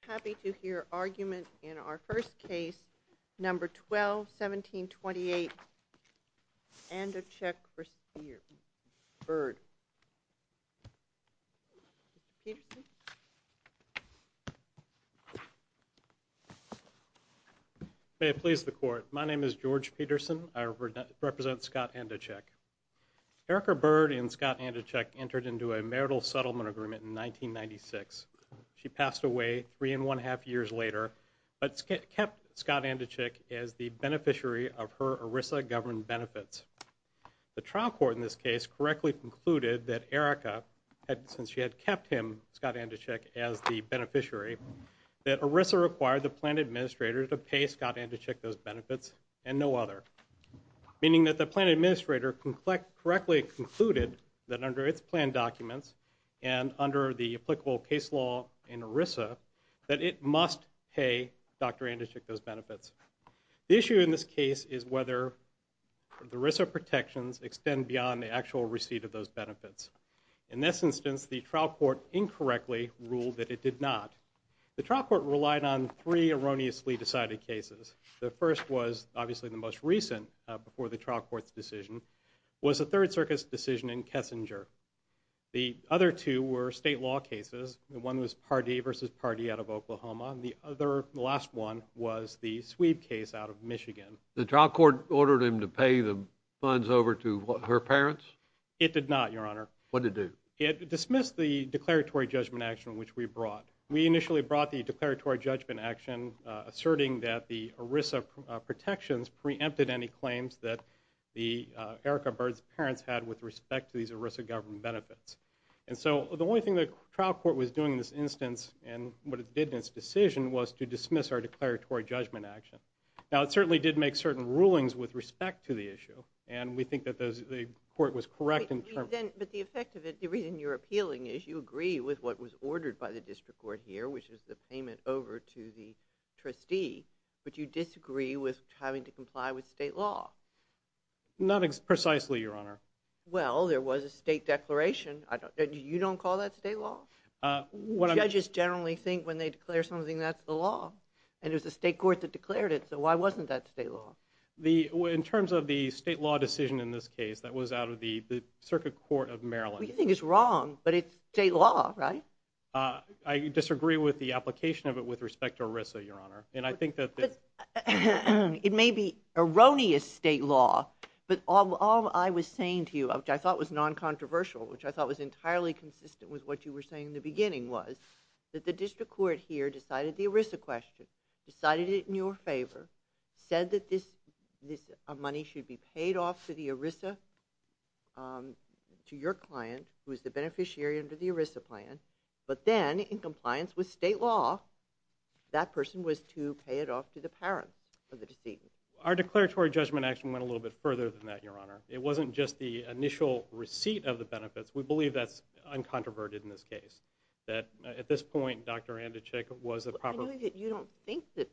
Happy to hear argument in our first case, number 12-1728, Andochick v. Byrd. May it please the court. My name is George Peterson. I represent Scott Andochick. Erica Byrd and Scott Andochick entered into a marital settlement agreement in 1996. She passed away three and one half years later, but kept Scott Andochick as the beneficiary of her ERISA government benefits. The trial court in this case correctly concluded that Erica, since she had kept him, Scott Andochick, as the beneficiary, that ERISA required the plan administrator to pay Scott Andochick those benefits and no other. Meaning that the plan administrator correctly concluded that under its plan documents and under the applicable case law in ERISA, that it must pay Dr. Andochick those benefits. The issue in this case is whether the ERISA protections extend beyond the actual receipt of those benefits. In this instance, the trial court incorrectly ruled that it did not. The trial court relied on three erroneously decided cases. The first was obviously the most recent before the trial court's decision, was the Third Circus decision in Kessinger. The other two were state law cases. One was Pardee v. Pardee out of Oklahoma, and the other, the last one, was the Swede case out of Michigan. The trial court ordered him to pay the funds over to her parents? It did not, Your Honor. What did it do? It dismissed the declaratory judgment action which we brought. We initially brought the declaratory judgment action asserting that the ERISA protections preempted any claims that Erica Bird's parents had with respect to these ERISA government benefits. And so the only thing the trial court was doing in this instance and what it did in its decision was to dismiss our declaratory judgment action. Now, it certainly did make certain rulings with respect to the issue, and we think that the court was correct in terms of But the effect of it, the reason you're appealing is you agree with what was ordered by the district court here, which is the payment over to the trustee, but you disagree with having to comply with state law. Not precisely, Your Honor. Well, there was a state declaration. You don't call that state law? Judges generally think when they declare something, that's the law. And it was the state court that declared it, so why wasn't that state law? In terms of the state law decision in this case that was out of the Circuit Court of Maryland. You think it's wrong, but it's state law, right? I disagree with the application of it with respect to ERISA, Your Honor. It may be erroneous state law, but all I was saying to you, which I thought was non-controversial, which I thought was entirely consistent with what you were saying in the beginning, was that the district court here decided the ERISA question, decided it in your favor, said that this money should be paid off to the ERISA, to your client, who is the beneficiary under the ERISA plan, but then, in compliance with state law, that person was to pay it off to the parents of the decedent. Our declaratory judgment actually went a little bit further than that, Your Honor. It wasn't just the initial receipt of the benefits. We believe that's uncontroverted in this case, that at this point, Dr. Anduchik was a proper... I know that you don't think that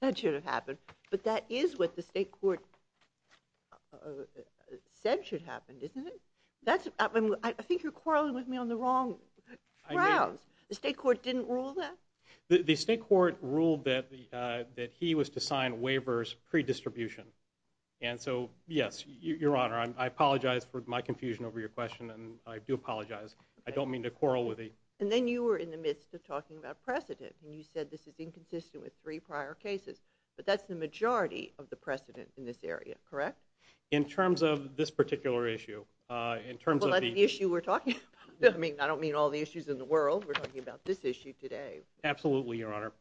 that should have happened, but that is what the state court said should happen, isn't it? I think you're quarreling with me on the wrong grounds. The state court didn't rule that? The state court ruled that he was to sign waivers pre-distribution. And so, yes, Your Honor, I apologize for my confusion over your question, and I do apologize. I don't mean to quarrel with you. And then you were in the midst of talking about precedent, and you said this is inconsistent with three prior cases, but that's the majority of the precedent in this area, correct? In terms of this particular issue, in terms of the... Well, that's the issue we're talking about. I mean, I don't mean all the issues in the world. We're talking about this issue today. Absolutely, Your Honor.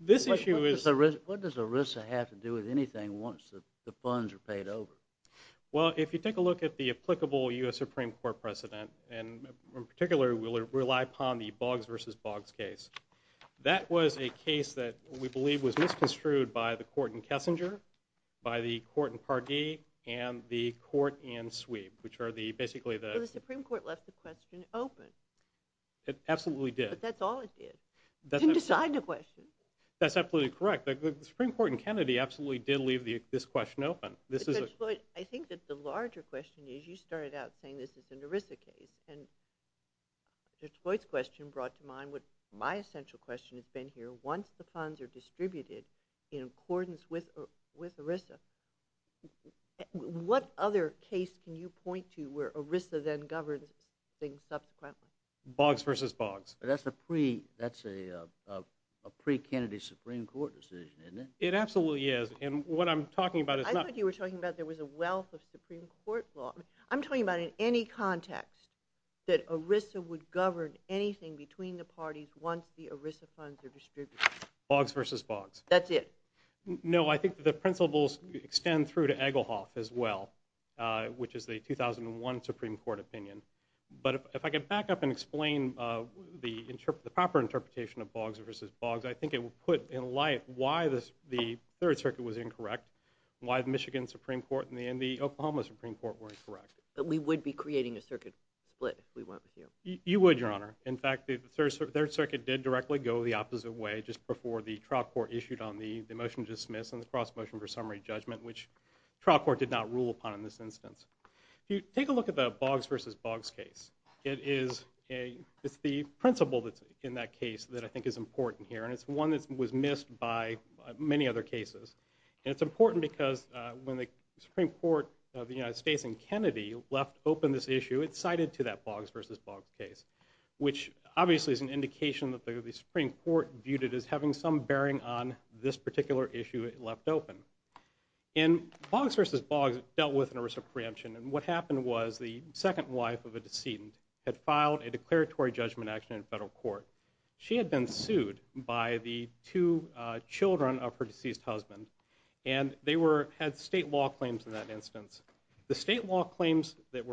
This issue is... What does ERISA have to do with anything once the funds are paid over? Well, if you take a look at the applicable U.S. Supreme Court precedent, and in particular we rely upon the Boggs v. Boggs case, that was a case that we believe was misconstrued by the court in Kessinger, by the court in Pardee, and the court in Sweep, which are basically the... Well, the Supreme Court left the question open. It absolutely did. But that's all it did. It didn't decide the question. That's absolutely correct. The Supreme Court in Kennedy absolutely did leave this question open. Judge Floyd, I think that the larger question is you started out saying this is an ERISA case, and Judge Floyd's question brought to mind what my essential question has been here. Once the funds are distributed in accordance with ERISA, what other case can you point to where ERISA then governs things subsequently? Boggs v. Boggs. That's a pre-Kennedy Supreme Court decision, isn't it? It absolutely is. And what I'm talking about is not... I thought you were talking about there was a wealth of Supreme Court law. I'm talking about in any context that ERISA would govern anything between the parties once the ERISA funds are distributed. Boggs v. Boggs. That's it. No, I think the principles extend through to Egglehoff as well, which is the 2001 Supreme Court opinion. But if I can back up and explain the proper interpretation of Boggs v. Boggs, I think it would put in light why the Third Circuit was incorrect and why the Michigan Supreme Court and the Oklahoma Supreme Court were incorrect. But we would be creating a circuit split if we went with you. You would, Your Honor. In fact, the Third Circuit did directly go the opposite way just before the trial court issued on the motion to dismiss and the cross-motion for summary judgment, which the trial court did not rule upon in this instance. If you take a look at the Boggs v. Boggs case, it's the principle that's in that case that I think is important here, and it's one that was missed by many other cases. It cited to that Boggs v. Boggs case, which obviously is an indication that the Supreme Court viewed it as having some bearing on this particular issue it left open. And Boggs v. Boggs dealt with an arrest of preemption, and what happened was the second wife of a decedent had filed a declaratory judgment action in federal court. She had been sued by the two children of her deceased husband, and they had state law claims in that instance. The state law claims that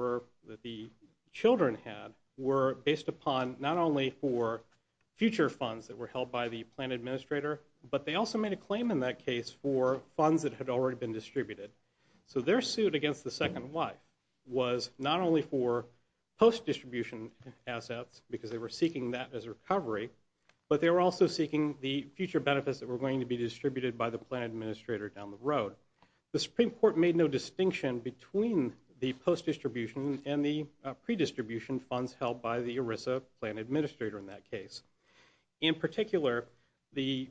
the children had were based upon not only for future funds that were held by the plan administrator, but they also made a claim in that case for funds that had already been distributed. So their suit against the second wife was not only for post-distribution assets, because they were seeking that as recovery, but they were also seeking the future benefits that were going to be distributed by the plan administrator down the road. The Supreme Court made no distinction between the post-distribution and the pre-distribution funds held by the ERISA plan administrator in that case. In particular, the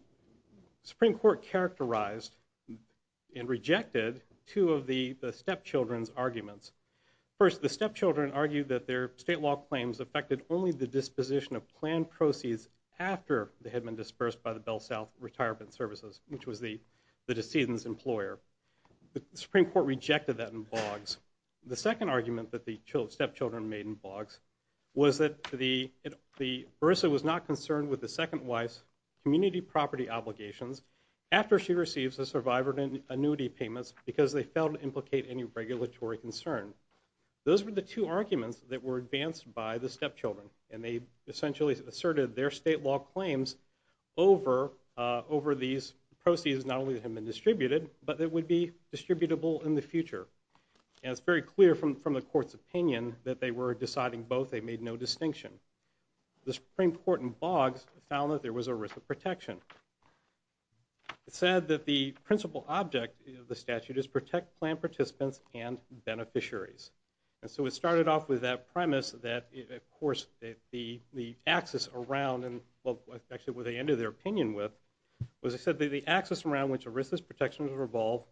Supreme Court characterized and rejected two of the stepchildren's arguments. First, the stepchildren argued that their state law claims affected only the disposition of plan proceeds after they had been dispersed by the Bell South Retirement Services, which was the decedent's employer. The Supreme Court rejected that in Boggs. The second argument that the stepchildren made in Boggs was that ERISA was not concerned with the second wife's community property obligations after she receives the survivor annuity payments because they failed to implicate any regulatory concern. Those were the two arguments that were advanced by the stepchildren, and they essentially asserted their state law claims over these proceeds not only that had been distributed, but that would be distributable in the future. And it's very clear from the Court's opinion that they were deciding both. They made no distinction. The Supreme Court in Boggs found that there was a risk of protection. It said that the principal object of the statute is protect plan participants and beneficiaries. And so it started off with that premise that, of course, the axis around, well, actually what they ended their opinion with, was it said that the axis around which ERISA's protections revolve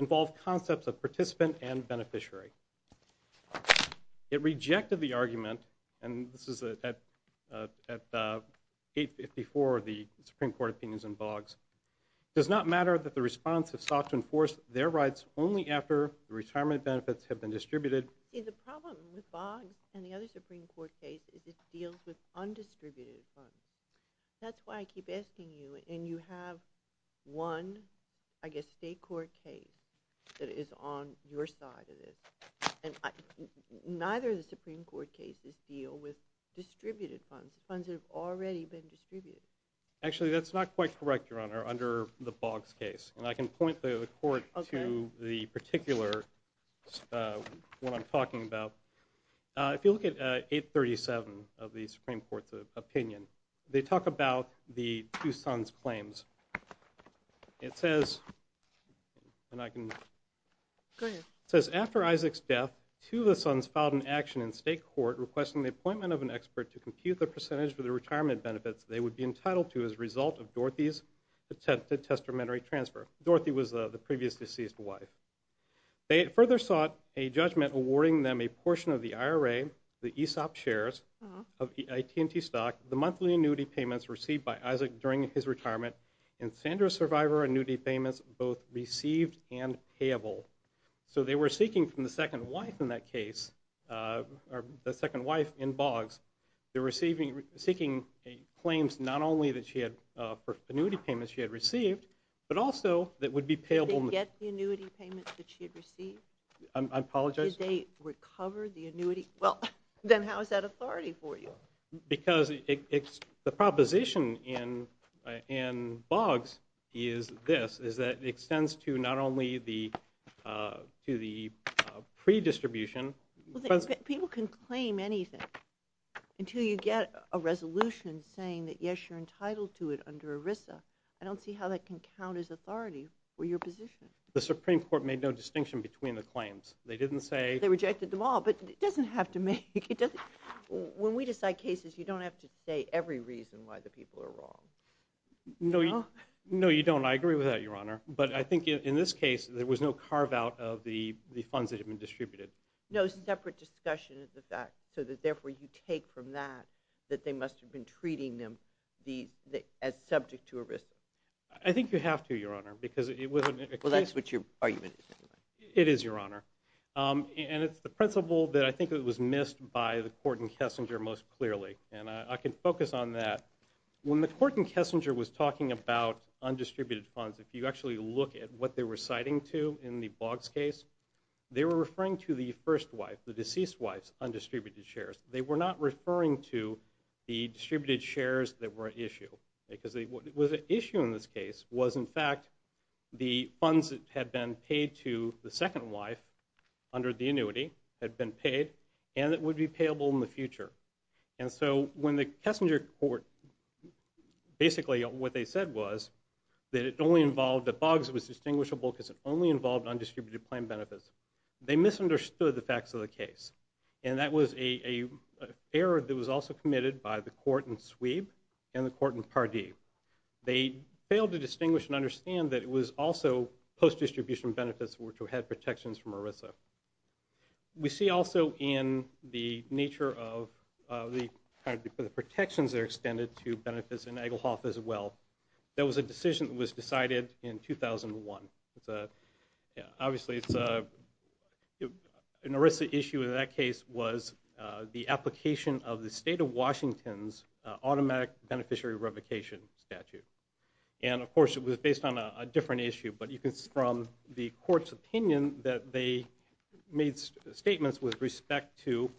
involved concepts of participant and beneficiary. It rejected the argument, and this is at 854, the Supreme Court opinions in Boggs. It does not matter that the response has sought to enforce their rights only after the retirement benefits have been distributed. See, the problem with Boggs and the other Supreme Court case is it deals with undistributed funds. That's why I keep asking you, and you have one, I guess, state court case that is on your side of this, and neither of the Supreme Court cases deal with distributed funds, funds that have already been distributed. Actually, that's not quite correct, Your Honor, under the Boggs case. And I can point the court to the particular one I'm talking about. If you look at 837 of the Supreme Court's opinion, they talk about the two sons' claims. It says, and I can... Go ahead. It says, after Isaac's death, two of the sons filed an action in state court requesting the appointment of an expert to compute the percentage for the retirement benefits they would be entitled to as a result of Dorothy's attempted testamentary transfer. Dorothy was the previous deceased wife. They further sought a judgment awarding them a portion of the IRA, the ESOP shares of AT&T stock, the monthly annuity payments received by Isaac during his retirement, and Sandra's survivor annuity payments both received and payable. So they were seeking from the second wife in that case, the second wife in Boggs, they're seeking claims not only for annuity payments she had received, but also that would be payable... Did they get the annuity payments that she had received? I apologize? Did they recover the annuity? Well, then how is that authority for you? Because the proposition in Boggs is this, is that it extends to not only the pre-distribution... People can claim anything until you get a resolution saying that, yes, you're entitled to it under ERISA. I don't see how that can count as authority for your position. The Supreme Court made no distinction between the claims. They didn't say... They rejected them all, but it doesn't have to make... When we decide cases, you don't have to say every reason why the people are wrong. No, you don't. I agree with that, Your Honor. But I think in this case, there was no carve-out of the funds that had been distributed. No separate discussion of the fact, so that therefore you take from that that they must have been treating them as subject to ERISA. I think you have to, Your Honor, because... Well, that's what your argument is. It is, Your Honor. And it's the principle that I think was missed by the court in Kessinger most clearly, and I can focus on that. When the court in Kessinger was talking about undistributed funds, if you actually look at what they were citing to in the Boggs case, they were referring to the first wife, the deceased wife's undistributed shares. They were not referring to the distributed shares that were at issue, because what was at issue in this case was, in fact, the funds that had been paid to the second wife under the annuity had been paid, and it would be payable in the future. And so when the Kessinger court... Basically, what they said was that it only involved... That Boggs was distinguishable because it only involved undistributed plan benefits. They misunderstood the facts of the case, and that was an error that was also committed by the court in Sweeb and the court in Pardee. They failed to distinguish and understand that it was also post-distribution benefits which had protections from ERISA. We see also in the nature of the protections that are extended to benefits in Egelhoff as well that was a decision that was decided in 2001. Obviously, an ERISA issue in that case was the application of the state of Washington's automatic beneficiary revocation statute. And, of course, it was based on a different issue, but it was from the court's opinion that they made statements with respect to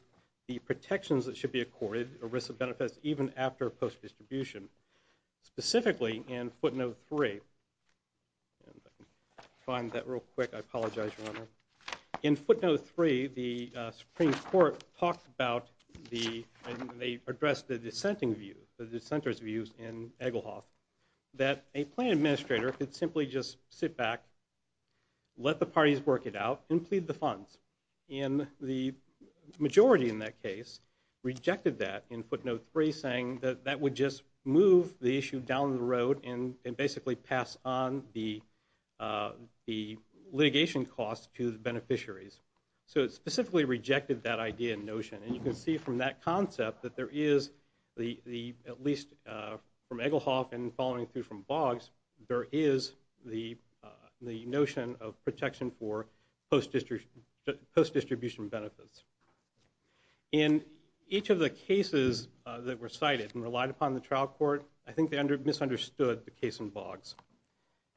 the protections that should be accorded to ERISA benefits even after post-distribution, specifically in footnote 3. I'll find that real quick. I apologize, Your Honor. In footnote 3, the Supreme Court talked about the... and they addressed the dissenting view, the dissenter's views in Egelhoff, that a plan administrator could simply just sit back, let the parties work it out, and plead the funds. And the majority in that case rejected that in footnote 3, saying that that would just move the issue down the road and basically pass on the litigation costs to the beneficiaries. So it specifically rejected that idea and notion. And you can see from that concept that there is, at least from Egelhoff and following through from Boggs, there is the notion of protection for post-distribution benefits. In each of the cases that were cited and relied upon in the trial court, I think they misunderstood the case in Boggs.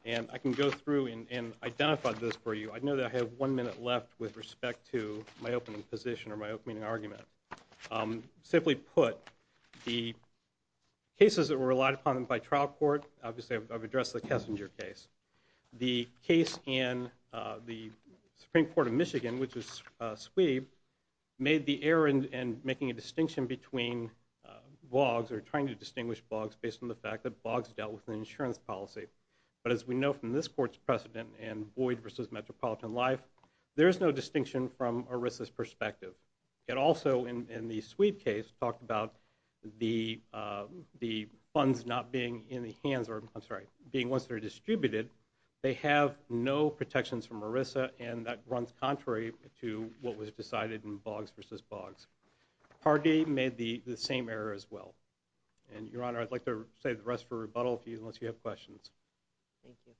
And I can go through and identify those for you. I know that I have one minute left with respect to my opening position or my opening argument. Simply put, the cases that were relied upon by trial court, obviously I've addressed the Kessinger case. The case in the Supreme Court of Michigan, which is SWEB, made the error in making a distinction between Boggs or trying to distinguish Boggs based on the fact that Boggs dealt with an insurance policy. But as we know from this court's precedent in Boyd v. Metropolitan Life, there is no distinction from ERISA's perspective. It also, in the SWEB case, talked about the funds not being in the hands, or I'm sorry, being ones that are distributed. They have no protections from ERISA, and that runs contrary to what was decided in Boggs v. Boggs. Parge made the same error as well. And, Your Honor, I'd like to save the rest for rebuttal unless you have questions. Thank you.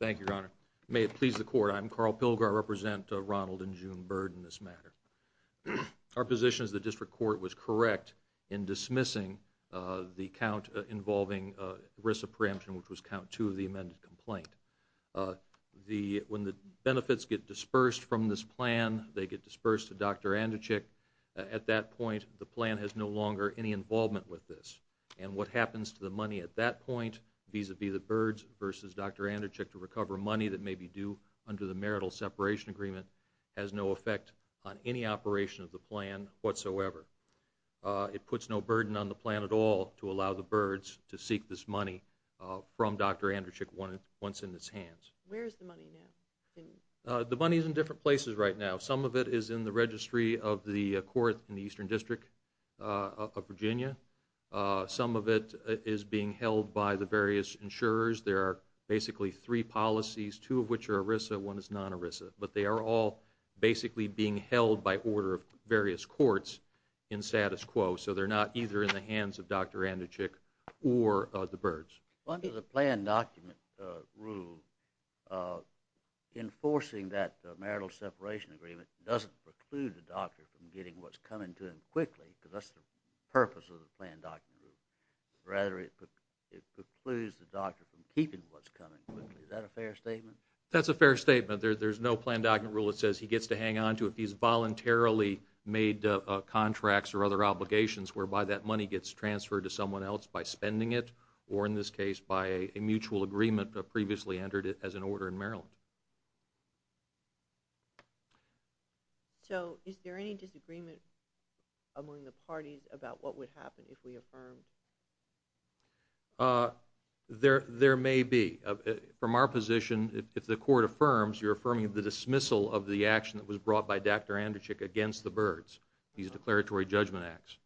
Thank you, Your Honor. May it please the Court, I'm Carl Pilger. I represent Ronald and June Bird in this matter. Our position is the district court was correct in dismissing the count involving ERISA preemption, which was count two of the amended complaint. When the benefits get dispersed from this plan, they get dispersed to Dr. Anderchik. At that point, the plan has no longer any involvement with this. And what happens to the money at that point, vis-à-vis the Birds v. Dr. Anderchik, to recover money that may be due under the marital separation agreement, has no effect on any operation of the plan whatsoever. It puts no burden on the plan at all to allow the Birds to seek this money from Dr. Anderchik once in its hands. Where is the money now? The money is in different places right now. Some of it is in the registry of the court in the Eastern District of Virginia. Some of it is being held by the various insurers. There are basically three policies, two of which are ERISA, one is non-ERISA. But they are all basically being held by order of various courts in status quo. So they're not either in the hands of Dr. Anderchik or the Birds. Under the plan document rule, enforcing that marital separation agreement doesn't preclude the doctor from getting what's coming to him quickly, because that's the purpose of the plan document rule. Rather, it precludes the doctor from keeping what's coming quickly. Is that a fair statement? That's a fair statement. There's no plan document rule that says he gets to hang on to it. He's voluntarily made contracts or other obligations whereby that money gets transferred to someone else by spending it, or in this case, by a mutual agreement that previously entered it as an order in Maryland. So is there any disagreement among the parties about what would happen if we affirmed? There may be. From our position, if the court affirms, you're affirming the dismissal of the action that was brought by Dr. Anderchik against the Birds, these declaratory judgment acts.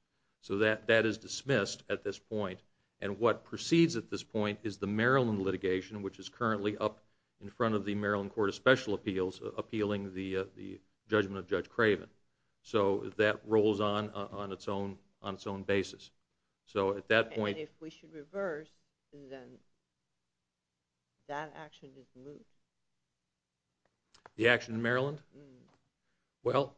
So that is dismissed at this point. And what proceeds at this point is the Maryland litigation, which is currently up in front of the Maryland Court of Special Appeals appealing the judgment of Judge Craven. So that rolls on on its own basis. And if we should reverse, then that action is moved? The action in Maryland? Well,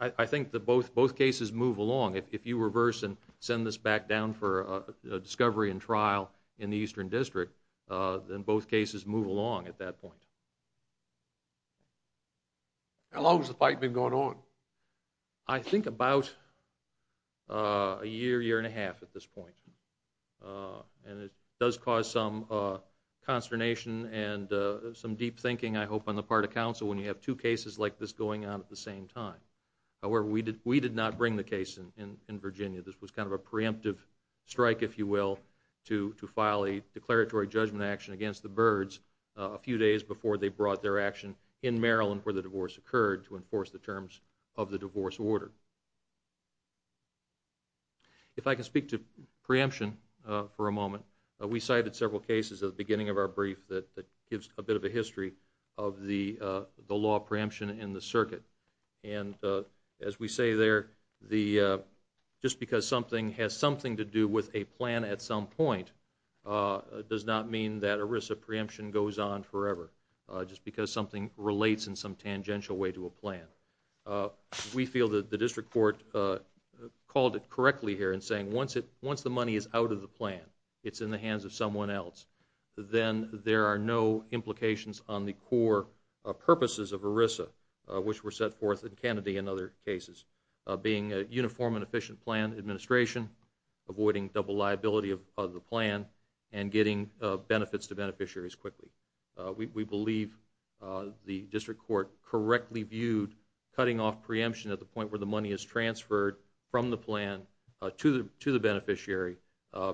I think that both cases move along. If you reverse and send this back down for discovery and trial in the Eastern District, then both cases move along at that point. How long has the fight been going on? I think about a year, year and a half at this point. And it does cause some consternation and some deep thinking, I hope, on the part of counsel when you have two cases like this going on at the same time. However, we did not bring the case in Virginia. This was kind of a preemptive strike, if you will, to file a declaratory judgment action against the Birds a few days before they brought their action in Maryland where the divorce occurred to enforce the terms of the divorce order. If I can speak to preemption for a moment, we cited several cases at the beginning of our brief that gives a bit of a history of the law of preemption in the circuit. And as we say there, just because something has something to do with a plan at some point does not mean that a risk of preemption goes on forever, just because something relates in some tangential way to a plan. We feel that the District Court called it correctly here in saying once the money is out of the plan, it's in the hands of someone else, then there are no implications on the core purposes of ERISA, which were set forth in Kennedy and other cases, being a uniform and efficient plan administration, avoiding double liability of the plan, and getting benefits to beneficiaries quickly. We believe the District Court correctly viewed cutting off preemption at the point where the money is transferred from the plan to the beneficiary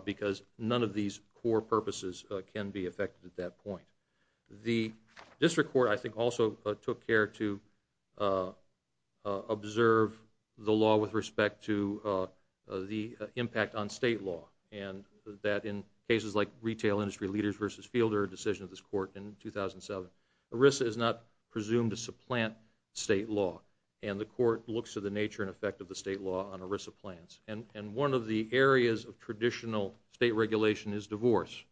because none of these core purposes can be affected at that point. The District Court I think also took care to observe the law with respect to the impact on state law, and that in cases like Retail Industry Leaders v. Fielder, a decision of this court in 2007, ERISA is not presumed to supplant state law, and the court looks to the nature and effect of the state law on ERISA plans. And one of the areas of traditional state regulation is divorce,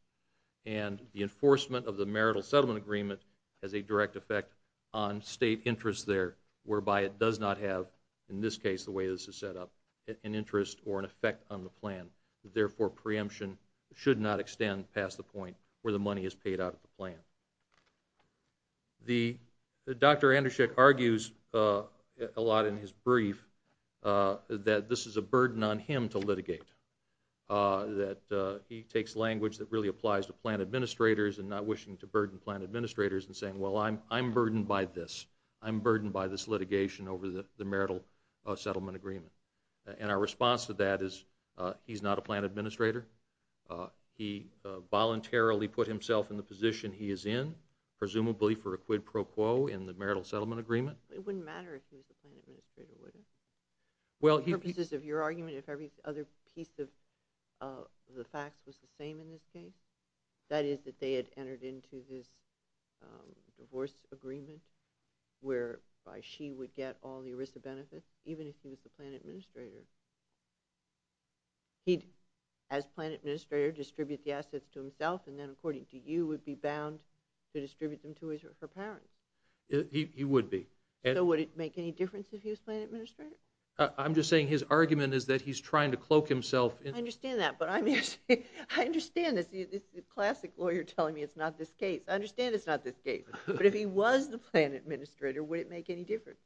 and the enforcement of the Marital Settlement Agreement has a direct effect on state interest there, whereby it does not have, in this case the way this is set up, an interest or an effect on the plan. Therefore preemption should not extend past the point where the money is paid out of the plan. Dr. Andersek argues a lot in his brief that this is a burden on him to litigate, that he takes language that really applies to plan administrators and not wishing to burden plan administrators and saying, well, I'm burdened by this. I'm burdened by this litigation over the Marital Settlement Agreement. And our response to that is he's not a plan administrator. He voluntarily put himself in the position he is in, presumably for a quid pro quo in the Marital Settlement Agreement. It wouldn't matter if he was a plan administrator, would it? Well, he... For purposes of your argument, if every other piece of the facts was the same in this case, that is that they had entered into this divorce agreement whereby she would get all the ERISA benefits, even if he was the plan administrator. He'd, as plan administrator, distribute the assets to himself and then, according to you, would be bound to distribute them to her parents. He would be. So would it make any difference if he was plan administrator? I'm just saying his argument is that he's trying to cloak himself in... I understand that. But I understand this classic lawyer telling me it's not this case. I understand it's not this case. But if he was the plan administrator, would it make any difference?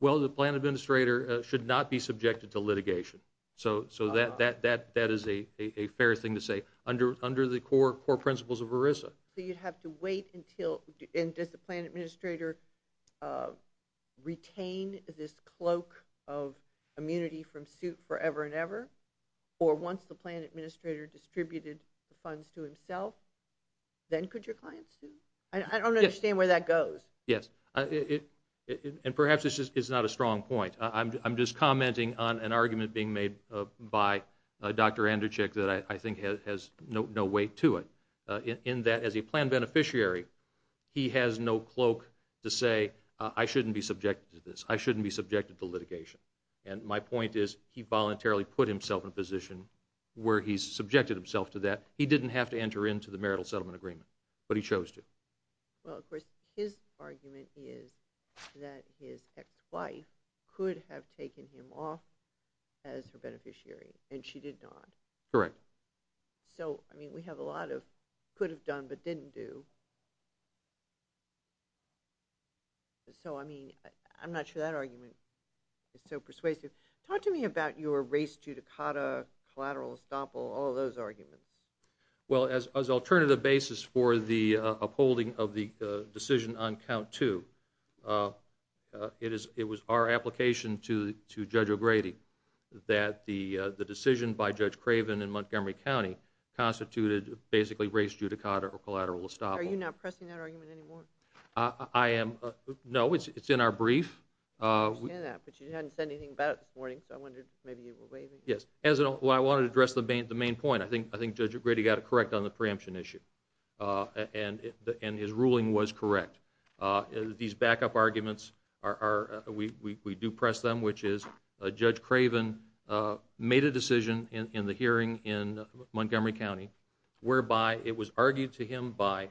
Well, the plan administrator should not be subjected to litigation. So that is a fair thing to say. But under the core principles of ERISA. So you'd have to wait until... And does the plan administrator retain this cloak of immunity from suit forever and ever? Or once the plan administrator distributed the funds to himself, then could your clients sue? I don't understand where that goes. Yes. And perhaps this is not a strong point. I'm just commenting on an argument being made by Dr. Anderchik that I think has no weight to it. In that, as a plan beneficiary, he has no cloak to say, I shouldn't be subjected to this. I shouldn't be subjected to litigation. And my point is he voluntarily put himself in a position where he's subjected himself to that. He didn't have to enter into the marital settlement agreement, but he chose to. Well, of course, his argument is that his ex-wife could have taken him off as her beneficiary, and she did not. Correct. So, I mean, we have a lot of could have done but didn't do. So, I mean, I'm not sure that argument is so persuasive. Talk to me about your race judicata, collateral estoppel, all those arguments. Well, as alternative basis for the upholding of the decision on count two, it was our application to Judge O'Grady that the decision by Judge Craven in Montgomery County constituted basically race judicata or collateral estoppel. Are you not pressing that argument anymore? I am. No, it's in our brief. I understand that, but you hadn't said anything about it this morning, so I wondered maybe you were waiving. Yes. Well, I wanted to address the main point. I think Judge O'Grady got it correct on the preemption issue, and his ruling was correct. These backup arguments, we do press them, which is Judge Craven made a decision in the hearing in Montgomery County whereby it was argued to him by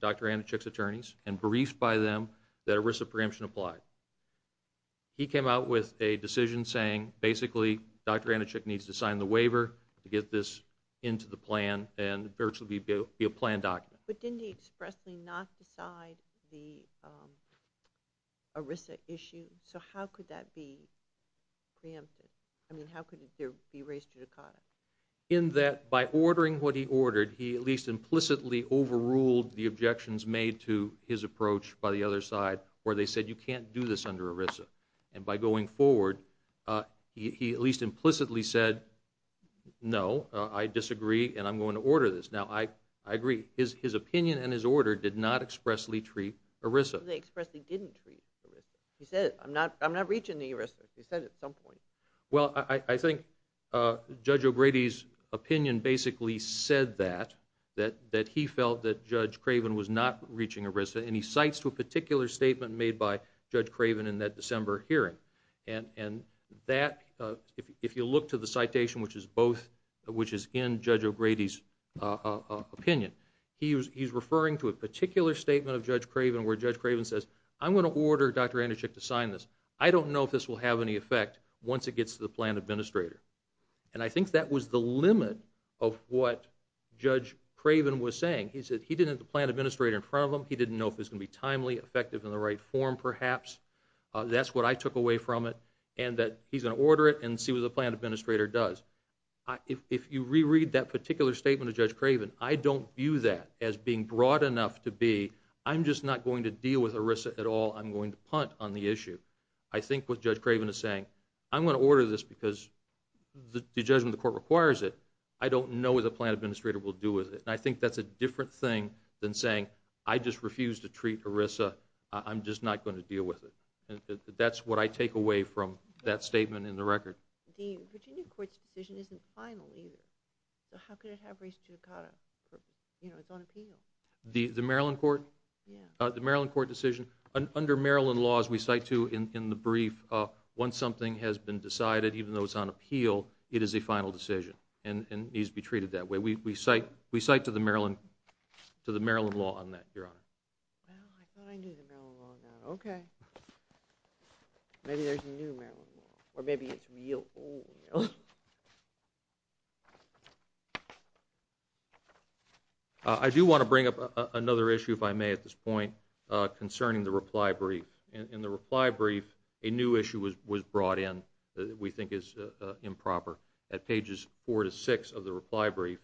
Dr. Anichik's attorneys and briefed by them that ERISA preemption applied. He came out with a decision saying basically Dr. Anichik needs to sign the waiver to get this into the plan and virtually be a planned document. But didn't he expressly not decide the ERISA issue? So how could that be preempted? I mean, how could it be race judicata? In that by ordering what he ordered, he at least implicitly overruled the objections made to his approach by the other side where they said you can't do this under ERISA. And by going forward, he at least implicitly said, no, I disagree, and I'm going to order this. Now, I agree. His opinion and his order did not expressly treat ERISA. They expressly didn't treat ERISA. He said, I'm not reaching the ERISA. He said it at some point. Well, I think Judge O'Grady's opinion basically said that, that he felt that Judge Craven was not reaching ERISA, and he cites a particular statement made by Judge Craven in that December hearing. And that, if you look to the citation, which is in Judge O'Grady's opinion, he's referring to a particular statement of Judge Craven where Judge Craven says, I'm going to order Dr. Anderchik to sign this. I don't know if this will have any effect once it gets to the plan administrator. And I think that was the limit of what Judge Craven was saying. He said he didn't have the plan administrator in front of him. He didn't know if it was going to be timely, effective in the right form perhaps. That's what I took away from it, and that he's going to order it and see what the plan administrator does. If you reread that particular statement of Judge Craven, I don't view that as being broad enough to be, I'm just not going to deal with ERISA at all. I'm going to punt on the issue. I think what Judge Craven is saying, I'm going to order this because the judgment the court requires it. I don't know what the plan administrator will do with it. And I think that's a different thing than saying, I just refuse to treat ERISA. I'm just not going to deal with it. That's what I take away from that statement in the record. The Virginia court's decision isn't final either. So how could it have reached Judicata? You know, it's on appeal. The Maryland court? Yeah. The Maryland court decision, under Maryland laws, we cite to in the brief, once something has been decided, even though it's on appeal, it is a final decision and needs to be treated that way. We cite to the Maryland law on that, Your Honor. Well, I thought I knew the Maryland law on that. Okay. Maybe there's a new Maryland law. Or maybe it's real old. I do want to bring up another issue, if I may, at this point, concerning the reply brief. In the reply brief, a new issue was brought in that we think is improper. At pages four to six of the reply brief,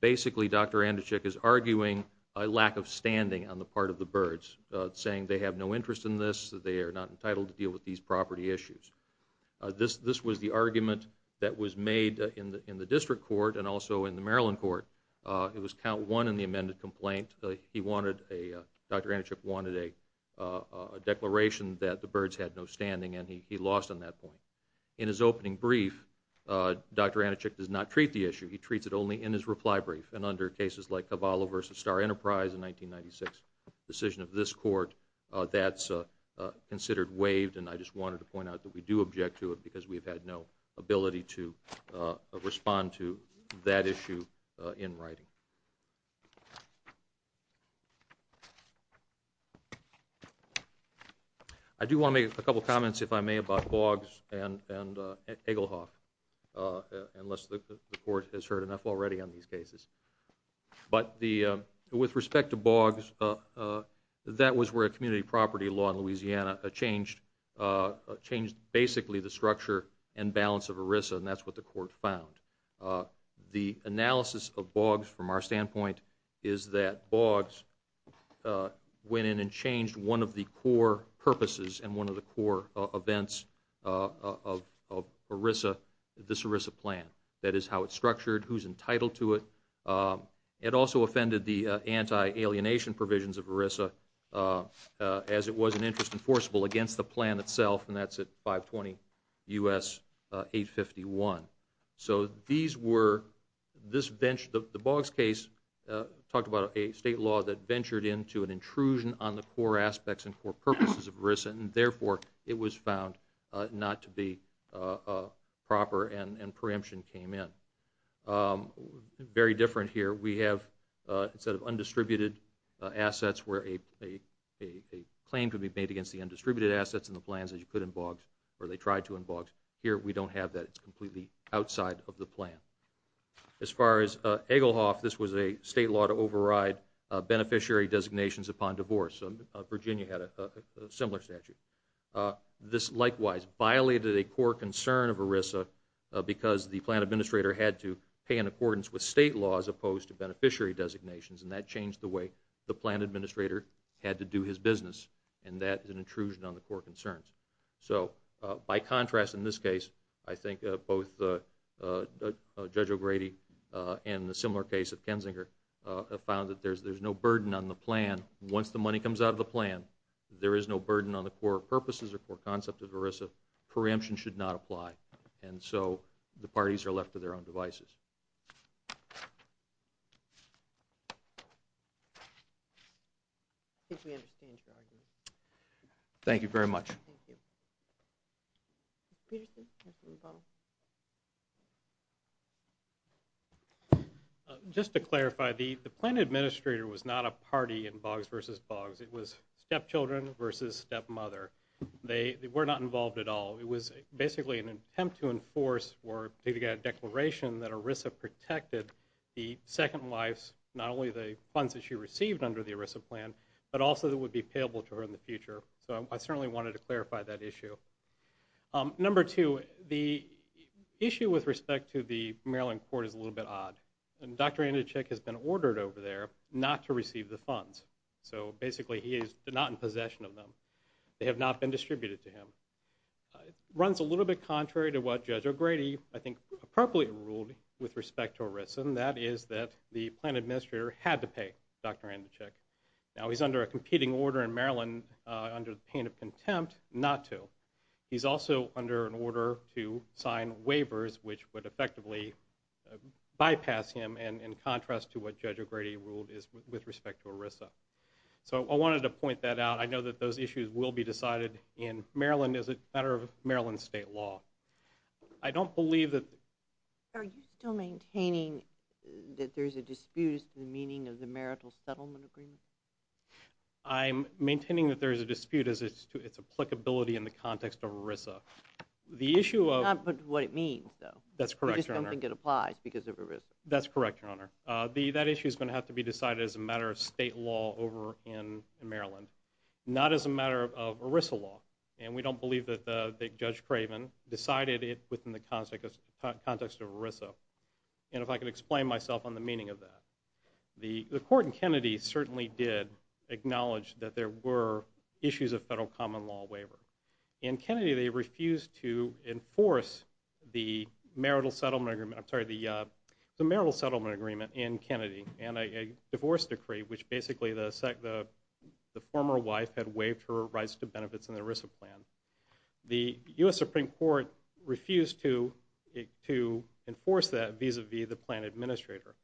basically Dr. Anduchik is arguing a lack of standing on the part of the Byrds, saying they have no interest in this, that they are not entitled to deal with these property issues. This was the argument that was made in the district court and also in the Maryland court. It was count one in the amended complaint. Dr. Anduchik wanted a declaration that the Byrds had no standing, and he lost on that point. In his opening brief, Dr. Anduchik does not treat the issue. He treats it only in his reply brief, and under cases like Cavallo v. Star Enterprise in 1996, a decision of this court that's considered waived, and I just wanted to point out that we do object to it because we've had no ability to respond to that issue in writing. I do want to make a couple of comments, if I may, about Boggs and Egelhoff, unless the court has heard enough already on these cases. But with respect to Boggs, that was where a community property law in Louisiana changed basically the structure and balance of ERISA, and that's what the court found. The analysis of Boggs, from our standpoint, is that Boggs went in and changed one of the core purposes and one of the core events of this ERISA plan. That is how it's structured, who's entitled to it. It also offended the anti-alienation provisions of ERISA as it was an interest enforceable against the plan itself, and that's at 520 U.S. 851. The Boggs case talked about a state law that ventured into an intrusion on the core aspects and core purposes of ERISA, and therefore it was found not to be proper and preemption came in. Very different here. We have a set of undistributed assets where a claim could be made against the undistributed assets in the plans as you could in Boggs, or they tried to in Boggs. Here we don't have that. It's completely outside of the plan. As far as Egelhoff, this was a state law to override beneficiary designations upon divorce. Virginia had a similar statute. This likewise violated a core concern of ERISA because the plan administrator had to pay in accordance with state law as opposed to beneficiary designations, and that changed the way the plan administrator had to do his business, and that is an intrusion on the core concerns. So by contrast in this case, I think both Judge O'Grady and the similar case of Kensinger found that there's no burden on the plan. Once the money comes out of the plan, there is no burden on the core purposes or core concept of ERISA. Preemption should not apply. And so the parties are left to their own devices. Thank you very much. Just to clarify, the plan administrator was not a party in Boggs v. Boggs. It was stepchildren v. stepmother. They were not involved at all. It was basically an attempt to enforce a particular declaration that ERISA protected the second wife's, not only the funds that she received under the ERISA plan, but also that would be payable to her in the future. So I certainly wanted to clarify that issue. Number two, the issue with respect to the Maryland court is a little bit odd. Dr. Andacek has been ordered over there not to receive the funds. So basically he is not in possession of them. They have not been distributed to him. It runs a little bit contrary to what Judge O'Grady, I think, appropriately ruled with respect to ERISA, and that is that the plan administrator had to pay Dr. Andacek. Now he's under a competing order in Maryland under the pain of contempt not to. He's also under an order to sign waivers which would effectively bypass him in contrast to what Judge O'Grady ruled with respect to ERISA. So I wanted to point that out. I know that those issues will be decided in Maryland as a matter of Maryland state law. I don't believe that the— Are you still maintaining that there is a dispute as to the meaning of the marital settlement agreement? I'm maintaining that there is a dispute as to its applicability in the context of ERISA. The issue of— Not what it means, though. That's correct, Your Honor. I just don't think it applies because of ERISA. That's correct, Your Honor. That issue is going to have to be decided as a matter of state law over in Maryland, not as a matter of ERISA law. And we don't believe that Judge Craven decided it within the context of ERISA. And if I could explain myself on the meaning of that. The court in Kennedy certainly did acknowledge that there were issues of federal common law waiver. In Kennedy, they refused to enforce the marital settlement agreement— I'm sorry, the marital settlement agreement in Kennedy and a divorce decree, which basically the former wife had waived her rights to benefits in the ERISA plan. The U.S. Supreme Court refused to enforce that vis-a-vis the plan administrator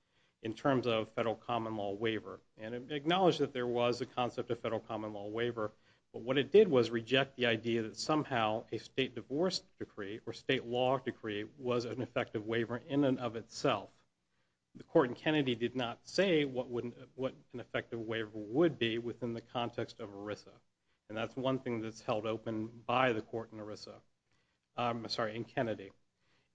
in terms of federal common law waiver. And it acknowledged that there was a concept of federal common law waiver, but what it did was reject the idea that somehow a state divorce decree or state law decree was an effective waiver in and of itself. The court in Kennedy did not say what an effective waiver would be within the context of ERISA. And that's one thing that's held open by the court in Kennedy.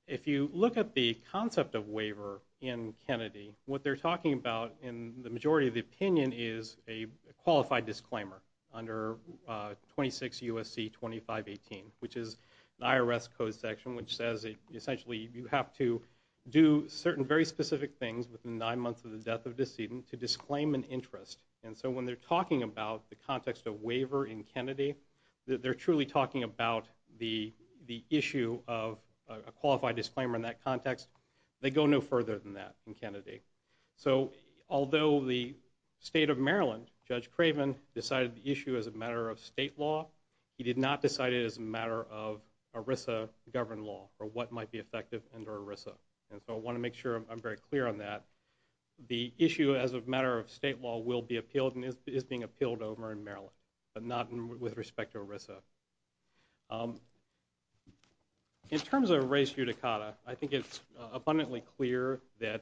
If you look at the concept of waiver in Kennedy, what they're talking about in the majority of the opinion is a qualified disclaimer under 26 U.S.C. 2518, which is an IRS code section, which says essentially you have to do certain very specific things within nine months of the death of a decedent to disclaim an interest. And so when they're talking about the context of waiver in Kennedy, they're truly talking about the issue of a qualified disclaimer in that context. They go no further than that in Kennedy. So although the state of Maryland, Judge Craven, decided the issue as a matter of state law, he did not decide it as a matter of ERISA governed law or what might be effective under ERISA. And so I want to make sure I'm very clear on that. The issue as a matter of state law will be appealed and is being appealed over in Maryland, but not with respect to ERISA. In terms of res judicata, I think it's abundantly clear that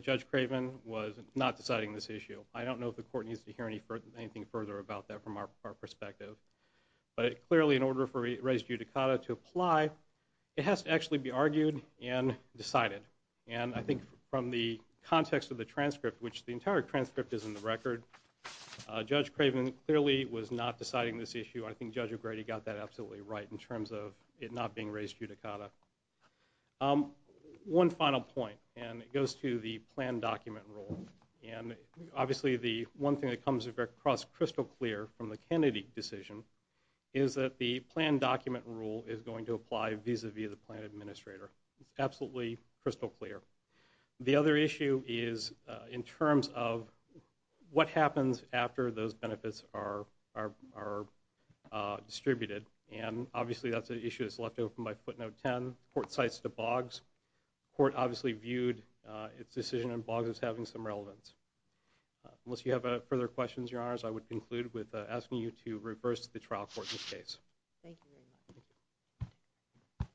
Judge Craven was not deciding this issue. I don't know if the court needs to hear anything further about that from our perspective. But clearly in order for res judicata to apply, it has to actually be argued and decided. And I think from the context of the transcript, which the entire transcript is in the record, Judge Craven clearly was not deciding this issue. I think Judge O'Grady got that absolutely right in terms of it not being res judicata. One final point, and it goes to the plan document rule. And obviously the one thing that comes across crystal clear from the Kennedy decision is that the plan document rule is going to apply vis-a-vis the plan administrator. It's absolutely crystal clear. The other issue is in terms of what happens after those benefits are distributed. And obviously that's an issue that's left open by footnote 10. The court cites the BOGS. The court obviously viewed its decision in BOGS as having some relevance. Unless you have further questions, Your Honors, I would conclude with asking you to reverse the trial court this case. Thank you very much.